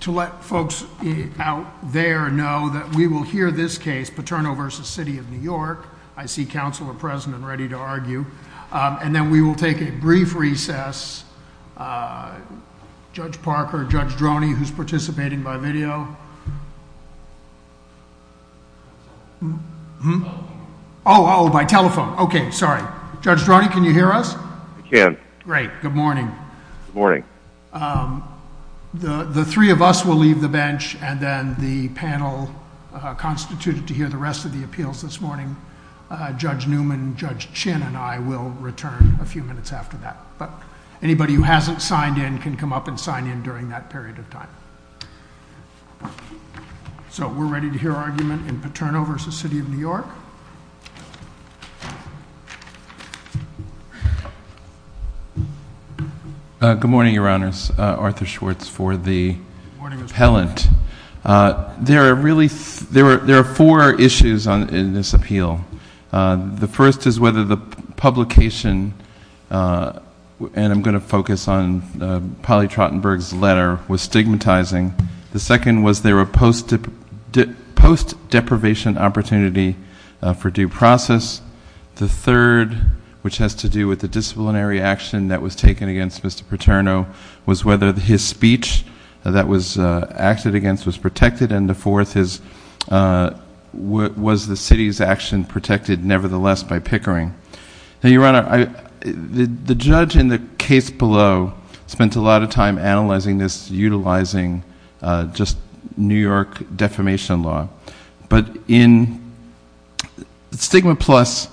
to let folks out there know that we will hear this case, Paterno v. City of New York. I see council are present and ready to argue. And then we will take a brief recess. Judge Parker, Judge Droney, who's participating by video. Oh, by telephone. Okay, sorry. Judge Droney, can you hear us? I can. Great. Good morning. Morning. The three of us will leave the bench and then the panel constituted to hear the rest of the appeals this morning. Judge Newman, Judge Chin and I will return a few minutes after that. But anybody who hasn't signed in can come up and sign in during that period of time. So we're ready to hear argument in Paterno v. City of New York. Good morning, Your Honors. Arthur Schwartz for the appellant. There are four issues in this appeal. The first is whether the publication, and I'm going to focus on Polly Trottenberg's letter, was stigmatizing. The second was there a post-deprivation opportunity for due process. The third, which has to do with the disciplinary action that was taken against Mr. Paterno, was whether his speech that was acted against was protected. And the fourth is was the city's action protected nevertheless by Pickering? Now, Your Honor, the judge in the case below spent a lot of time analyzing this, utilizing just New York defamation law. But in StigmaPlus,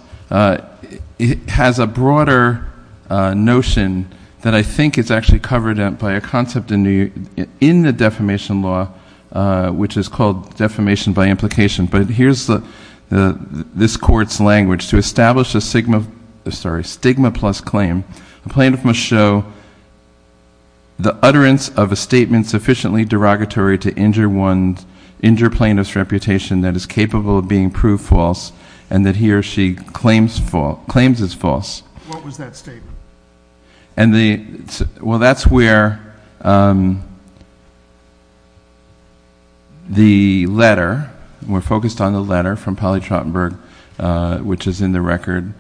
it has a broader notion that I think is actually covered by a concept in the defamation law, which is called defamation by implication. But here's this court's language. To establish a StigmaPlus claim, a plaintiff must show the utterance of a statement sufficiently derogatory to injure one's, injure plaintiff's reputation that is capable of being proved false, and that he or she claims is false. What was that statement? Well, that's where the letter, we're focused on the letter from Polly Trottenberg, which is in the record,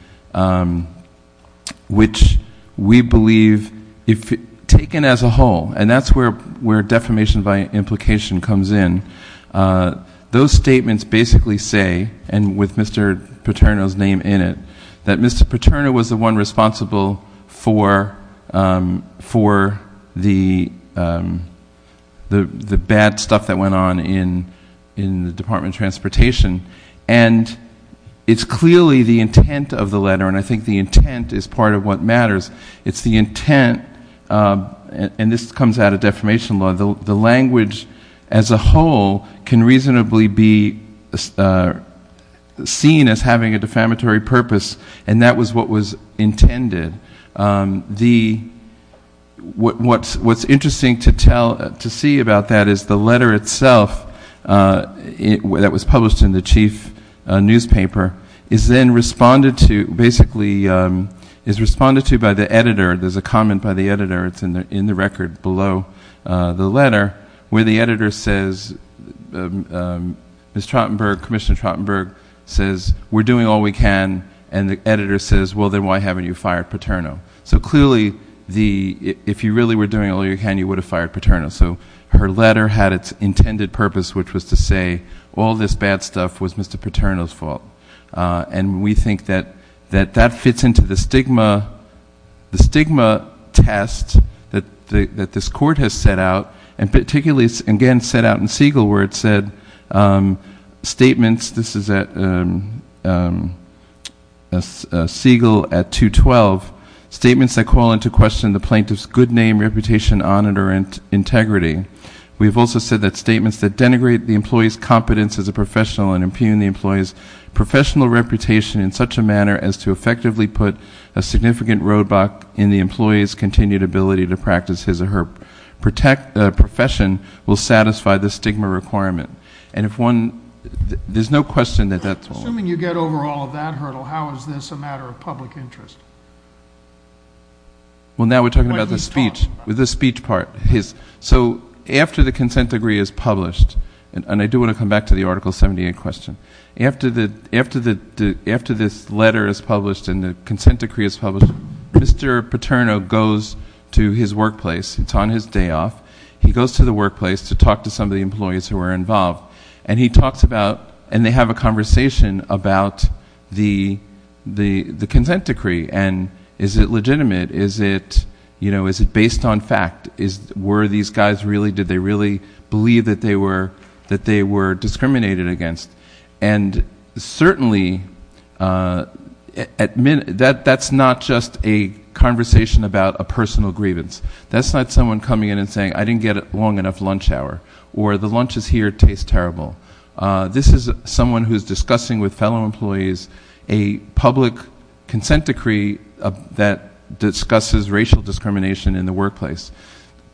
which we believe, if taken as a whole, and that's where defamation by implication comes in, those statements basically say, and with Mr. Paterno's name in it, that Mr. Paterno was the one responsible for the bad stuff that went on in the Department of Transportation. And it's clearly the intent of the letter, and I think the intent is part of what matters. It's the intent, and this comes out of defamation law, the language as a whole can reasonably be seen as having a defamatory purpose, and that was what was intended. What's interesting to tell, to see about that is the letter itself, it, that was published in the chief newspaper, is then responded to, basically, is responded to by the editor, there's a comment by the editor, it's in the record below the letter, where the editor says, Ms. Trottenberg, Commissioner Trottenberg, says, we're doing all we can, and the editor says, well, then why haven't you fired Paterno? So clearly, the, if you really were doing all you can, you would have fired Paterno. So her letter had its intended purpose, which was to say, all this bad stuff was Mr. Paterno's fault. And we think that that fits into the stigma, the stigma test that this court has set out, and particularly, again, set out in Siegel, where it said, statements, this is at Siegel at 212, statements that call into question the plaintiff's good name, reputation, honor, integrity. We've also said that statements that denigrate the employee's competence as a professional and impugn the employee's professional reputation in such a manner as to effectively put a significant roadblock in the employee's continued ability to practice his or her protect, profession, will satisfy the stigma requirement. And if one, there's no question that that's wrong. Assuming you get over all of that hurdle, how is this a matter of public interest? Well, now we're talking about the speech, with the speech part, his. So after the consent decree is published, and I do want to come back to the Article 78 question. After this letter is published and the consent decree is published, Mr. Paterno goes to his workplace, it's on his day off, he goes to the workplace to talk to some of the employees who are involved, and he talks about, and they have a conversation about the consent decree and is it legitimate? Is it, you know, is it based on fact? Were these guys really, did they really believe that they were discriminated against? And certainly, that's not just a conversation about a personal grievance. That's not someone coming in and saying, I didn't get a long enough lunch hour, or the lunches here taste terrible. This is someone who's discussing with fellow employees a public consent decree that discusses racial discrimination in the workplace.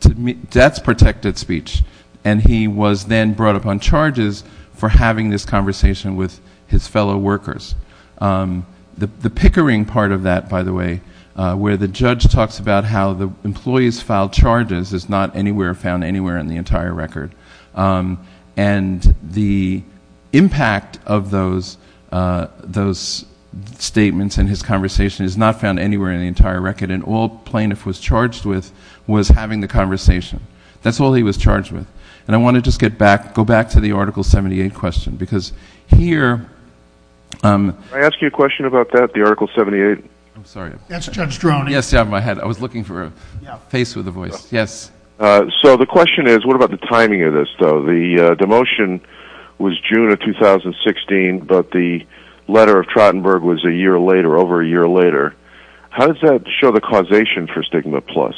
That's protected speech. And he was then brought upon charges for having this conversation with his fellow workers. The pickering part of that, by the way, where the judge talks about how the and the impact of those statements and his conversation is not found anywhere in the entire record, and all plaintiff was charged with was having the conversation. That's all he was charged with. And I want to just get back, go back to the Article 78 question, because here I ask you a question about that, the Article 78. I'm sorry. That's Judge Droney. Yes, yeah, my head. I was looking for a face with a voice. Yes. So the question is, what about the timing of this, though? The motion was June of 2016, but the letter of Trottenberg was a year later, over a year later. How does that show the causation for Stigma Plus?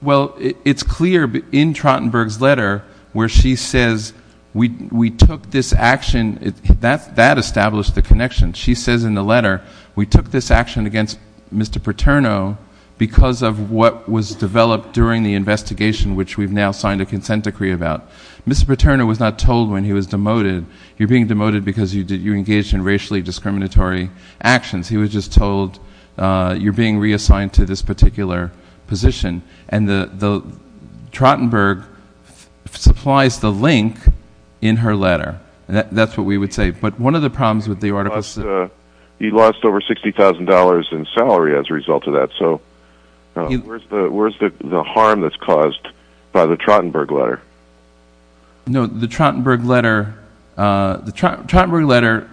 Well, it's clear in Trottenberg's letter where she says, we took this action. That established the connection. She says in the letter, we took this action against Mr. Paterno because of what was developed during the investigation, which we've now signed a consent decree about. Mr. Paterno was not told when he was demoted, you're being demoted because you engaged in racially discriminatory actions. He was just told you're being reassigned to this particular position. And Trottenberg supplies the link in her letter. That's what we would say. But one of the problems is he lost over $60,000 in salary as a result of that. So where's the harm that's caused by the Trottenberg letter? No, the Trottenberg letter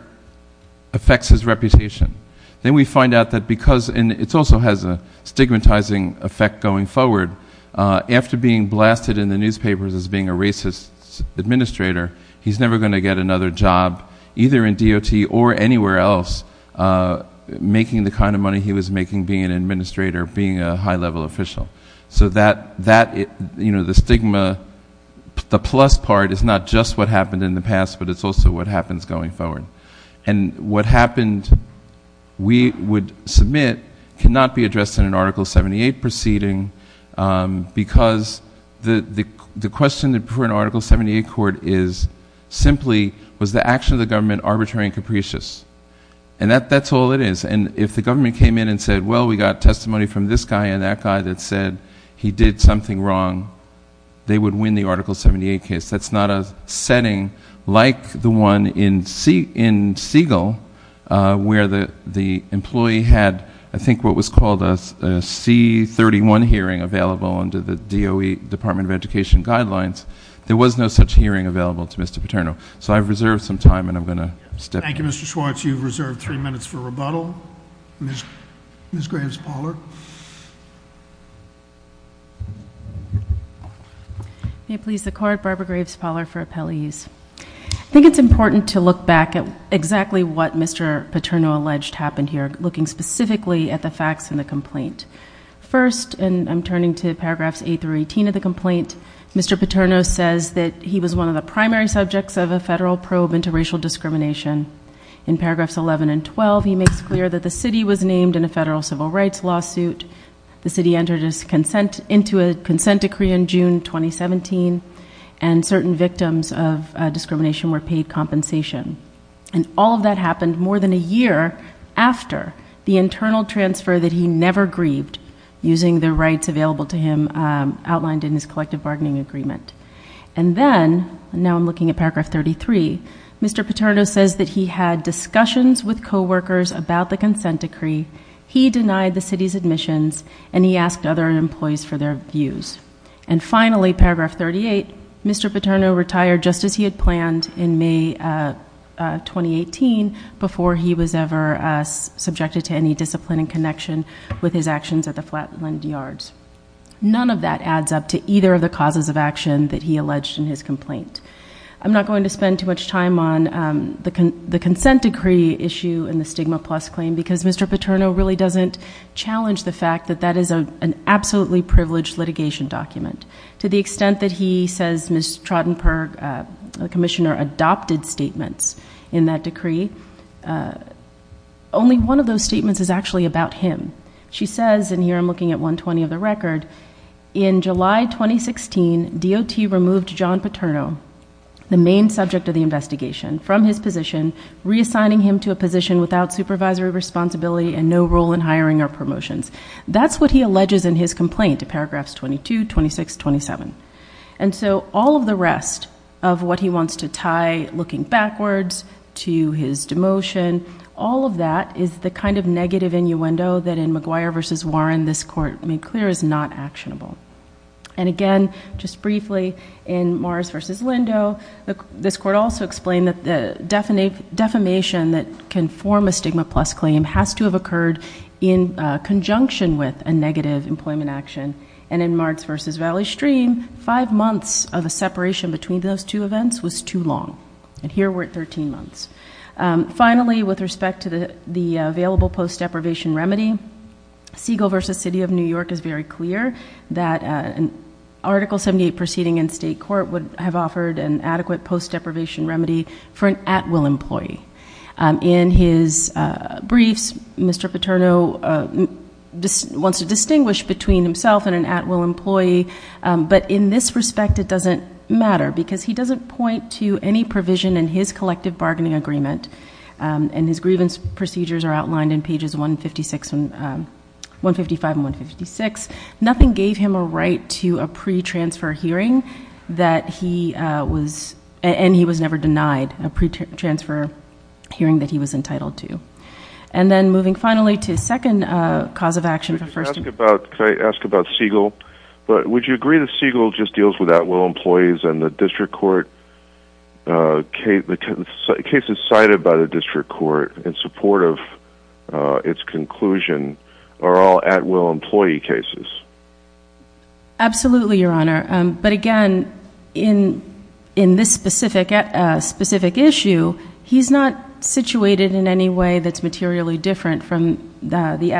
affects his reputation. Then we find out that because, and it also has a stigmatizing effect going forward, after being blasted in the newspapers as being a racist administrator, he's never going to get another job, either in or anywhere else, making the kind of money he was making being an administrator, being a high level official. So the stigma, the plus part is not just what happened in the past, but it's also what happens going forward. And what happened, we would submit, cannot be addressed in an Article 78 proceeding because the question for an Article 78 court is simply, was the action of the government arbitrary and capricious? And that's all it is. And if the government came in and said, well, we got testimony from this guy and that guy that said he did something wrong, they would win the Article 78 case. That's not a setting like the one in Siegel, where the employee had, I think, what was called a C31 hearing available under the DOE Department of Education guidelines. There was no such hearing available to Mr. Paterno. So I've reserved some time and I'm going to step in. Thank you, Mr. Schwartz. You've reserved three minutes for rebuttal. Ms. Graves-Pollard. May it please the Court, Barbara Graves-Pollard for appellees. I think it's important to look back at exactly what Mr. Paterno alleged happened here, looking specifically at the facts in the case. Mr. Paterno says that he was one of the primary subjects of a federal probe into racial discrimination. In paragraphs 11 and 12, he makes clear that the city was named in a federal civil rights lawsuit. The city entered into a consent decree in June 2017, and certain victims of discrimination were paid compensation. And all of that happened more than a year after the internal transfer that he never grieved, using the rights available to him outlined in his collective bargaining agreement. And then, now I'm looking at paragraph 33, Mr. Paterno says that he had discussions with co-workers about the consent decree, he denied the city's admissions, and he asked other employees for their views. And finally, paragraph 38, Mr. Paterno retired just as he had planned in May 2018, before he was ever subjected to any discipline in connection with his actions at the Flatland Yards. None of that adds up to either of the causes of action that he alleged in his complaint. I'm not going to spend too much time on the consent decree issue and the stigma plus claim, because Mr. Paterno really doesn't challenge the fact that that is an absolutely privileged litigation document. To the extent that he says Ms. Trottenberg, the commissioner, adopted statements in that decree, only one of those statements is actually about him. She says, and here I'm looking at 120 of the record, in July 2016, DOT removed John Paterno, the main subject of the investigation, from his position, reassigning him to a position without supervisory responsibility and no role in hiring or promotions. That's what he alleges in his complaint, paragraphs 22, 26, 27. And so all of the rest of what he wants to tie, looking backwards, to his demotion, all of that is the kind of negative innuendo that in McGuire v. Warren, this court made clear is not actionable. And again, just briefly, in Mars v. Lindo, this court also explained that the defamation that can form a stigma plus claim has to have occurred in conjunction with a negative employment action. And in Mars v. Valley Stream, five months of a separation between those two events was too long. And here we're at 13 months. Finally, with respect to the available post-deprivation remedy, Siegel v. City of New York is very clear that an Article 78 proceeding in state court would have offered an adequate post-deprivation remedy for an at-will employee. In his briefs, Mr. Paterno just wants to distinguish between himself and an at-will employee. But in this respect, it doesn't matter because he doesn't point to any provision in his collective bargaining agreement. And his grievance procedures are outlined in pages 155 and 156. Nothing gave him a right to a pre-transfer hearing, and he was never denied a pre-transfer hearing that he was entitled to. And then moving finally to the second cause of action. Could I ask about Siegel? But would you agree that Siegel just deals with at-will employees and the district court cases cited by the district court in support of its conclusion are all at-will employee cases? Absolutely, Your Honor. But again, in this specific issue, he's not situated in any way that's materially different from the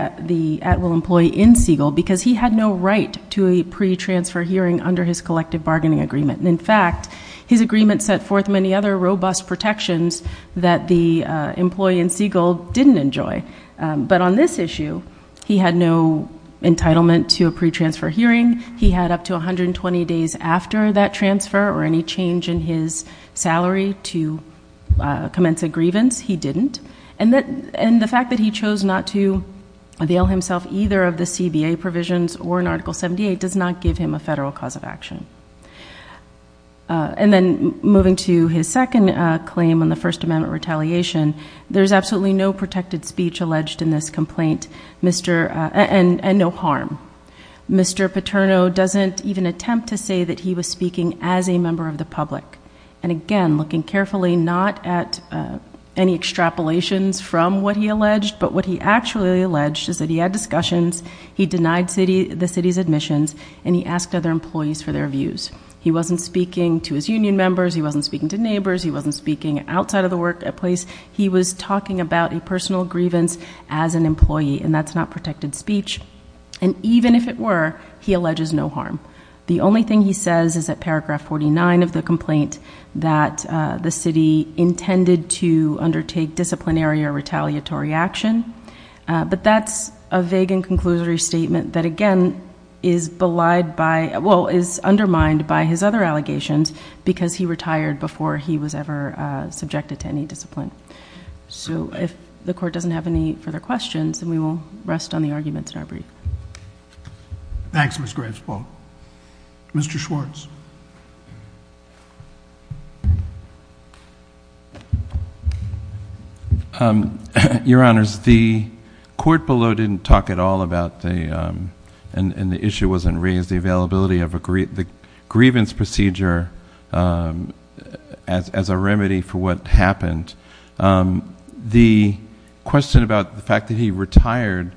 at-will employee in Siegel because he had no right to a pre-transfer hearing under his collective bargaining agreement. And in fact, his agreement set forth many other robust protections that the employee in Siegel didn't enjoy. But on this issue, he had no entitlement to a pre-transfer hearing. He had up to 120 days after that transfer or any change in his salary to commence a grievance. He didn't. And the fact that he chose not to avail himself either of the CBA provisions or in Article 78 does not give him a federal cause of action. And then moving to his second claim on the First Amendment retaliation, there's absolutely no protected speech alleged in this complaint, and no harm. Mr. Paterno doesn't even attempt to say that he was speaking as a member of the public. And again, looking carefully, not at any extrapolations from what he alleged, but what he actually alleged is that he had discussions, he denied the city's admissions, and he asked other employees for their views. He wasn't speaking to his union members. He wasn't speaking to neighbors. He wasn't speaking outside of the workplace. He was talking about a personal grievance as an employee, and that's not protected speech. And even if it were, he alleges no harm. The only thing he says is that paragraph 49 of the complaint that the city intended to undertake disciplinary or retaliatory action. But that's a vague and conclusory statement that, again, is belied by, well, is undermined by his other allegations because he retired before he was ever subjected to any questions. And we will rest on the arguments in our brief. Thanks, Ms. Gravesbolt. Mr. Schwartz. Your Honors, the court below didn't talk at all about the, and the issue wasn't raised, the availability of the grievance procedure as a remedy for what happened. The question about the fact that he retired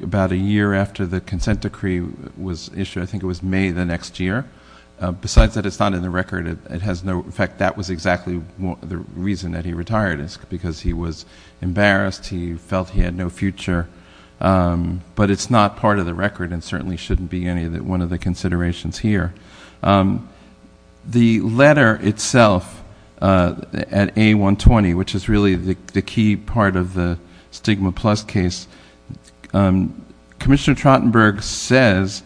about a year after the consent decree was issued, I think it was May the next year. Besides that, it's not in the record. It has no, in fact, that was exactly the reason that he retired is because he was embarrassed. He felt he had no future. But it's not part of the record and certainly shouldn't be any of the, one of the considerations here. The letter itself at A120, which is really the key part of the Stigma Plus case, Commissioner Trottenberg says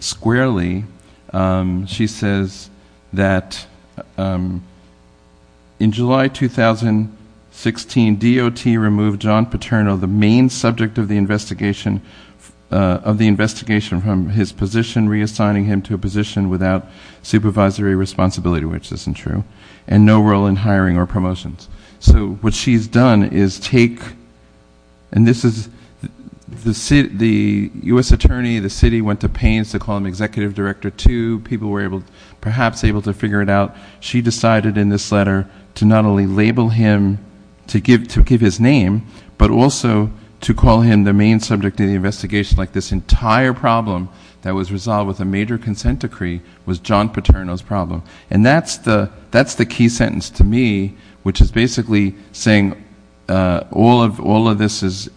squarely, she says that, in July 2016, DOT removed John Paterno, the main subject of the investigation, of the investigation from his position, reassigning him to a position without supervisory responsibility, which isn't true, and no role in hiring or promotions. So what she's done is take, and this is, the U.S. Attorney, the city went to Paines to call him Executive Director 2. People were able, perhaps able to figure it out. She decided in this letter to not only label him, to give his name, but also to call him the main subject of the investigation, like this entire problem that was resolved with a major consent decree was John Paterno's problem. And that's the key sentence to me, which is basically saying all of this is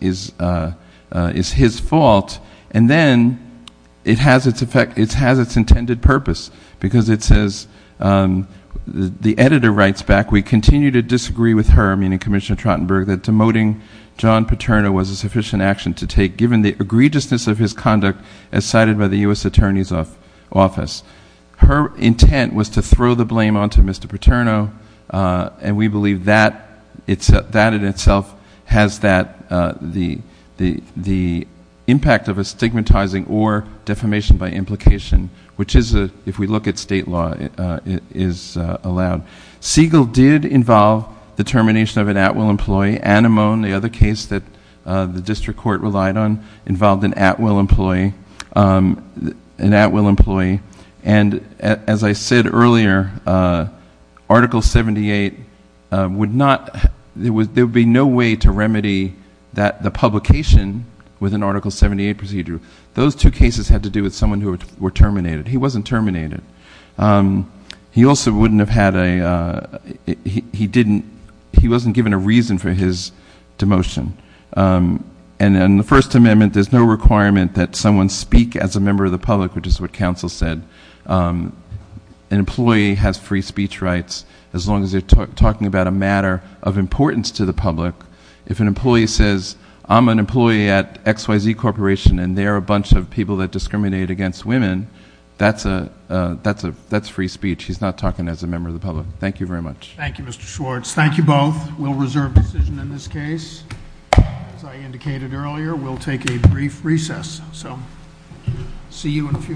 his fault. And then it has its effect, it has its intended purpose, because it says, the editor writes back, we continue to disagree with her, meaning Commissioner Trottenberg, that demoting John Paterno was a sufficient action to take, given the egregiousness of his conduct, as cited by the U.S. Attorney's Office. Her intent was to throw the blame onto Mr. Paterno, and we believe that in itself has the impact of a stigmatizing or defamation by implication, which is, if we look at state law, is allowed. Siegel did involve the termination of an at-will employee. Anamone, the other case that the district court relied on, involved an at-will employee. And as I said earlier, Article 78 would not, there would be no way to remedy the publication with an Article 78 procedure. Those two cases had to do with someone who were terminated. He wasn't terminated. He also wouldn't have had a, he didn't, he wasn't given a reason for his demotion. And in the First Amendment, there's no requirement that someone speak as a member of the public, which is what counsel said. An employee has free speech rights, as long as they're talking about a matter of importance to the public. If an employee says, I'm an employee at XYZ Corporation, and they're a bunch of people that discriminate against women, that's a, that's a, that's free speech. He's not talking as a member of the public. Thank you very much. Thank you, Mr. Schwartz. Thank you both. We'll reserve decision in this case. As I indicated earlier, we'll take a brief recess. So, see you in a few minutes.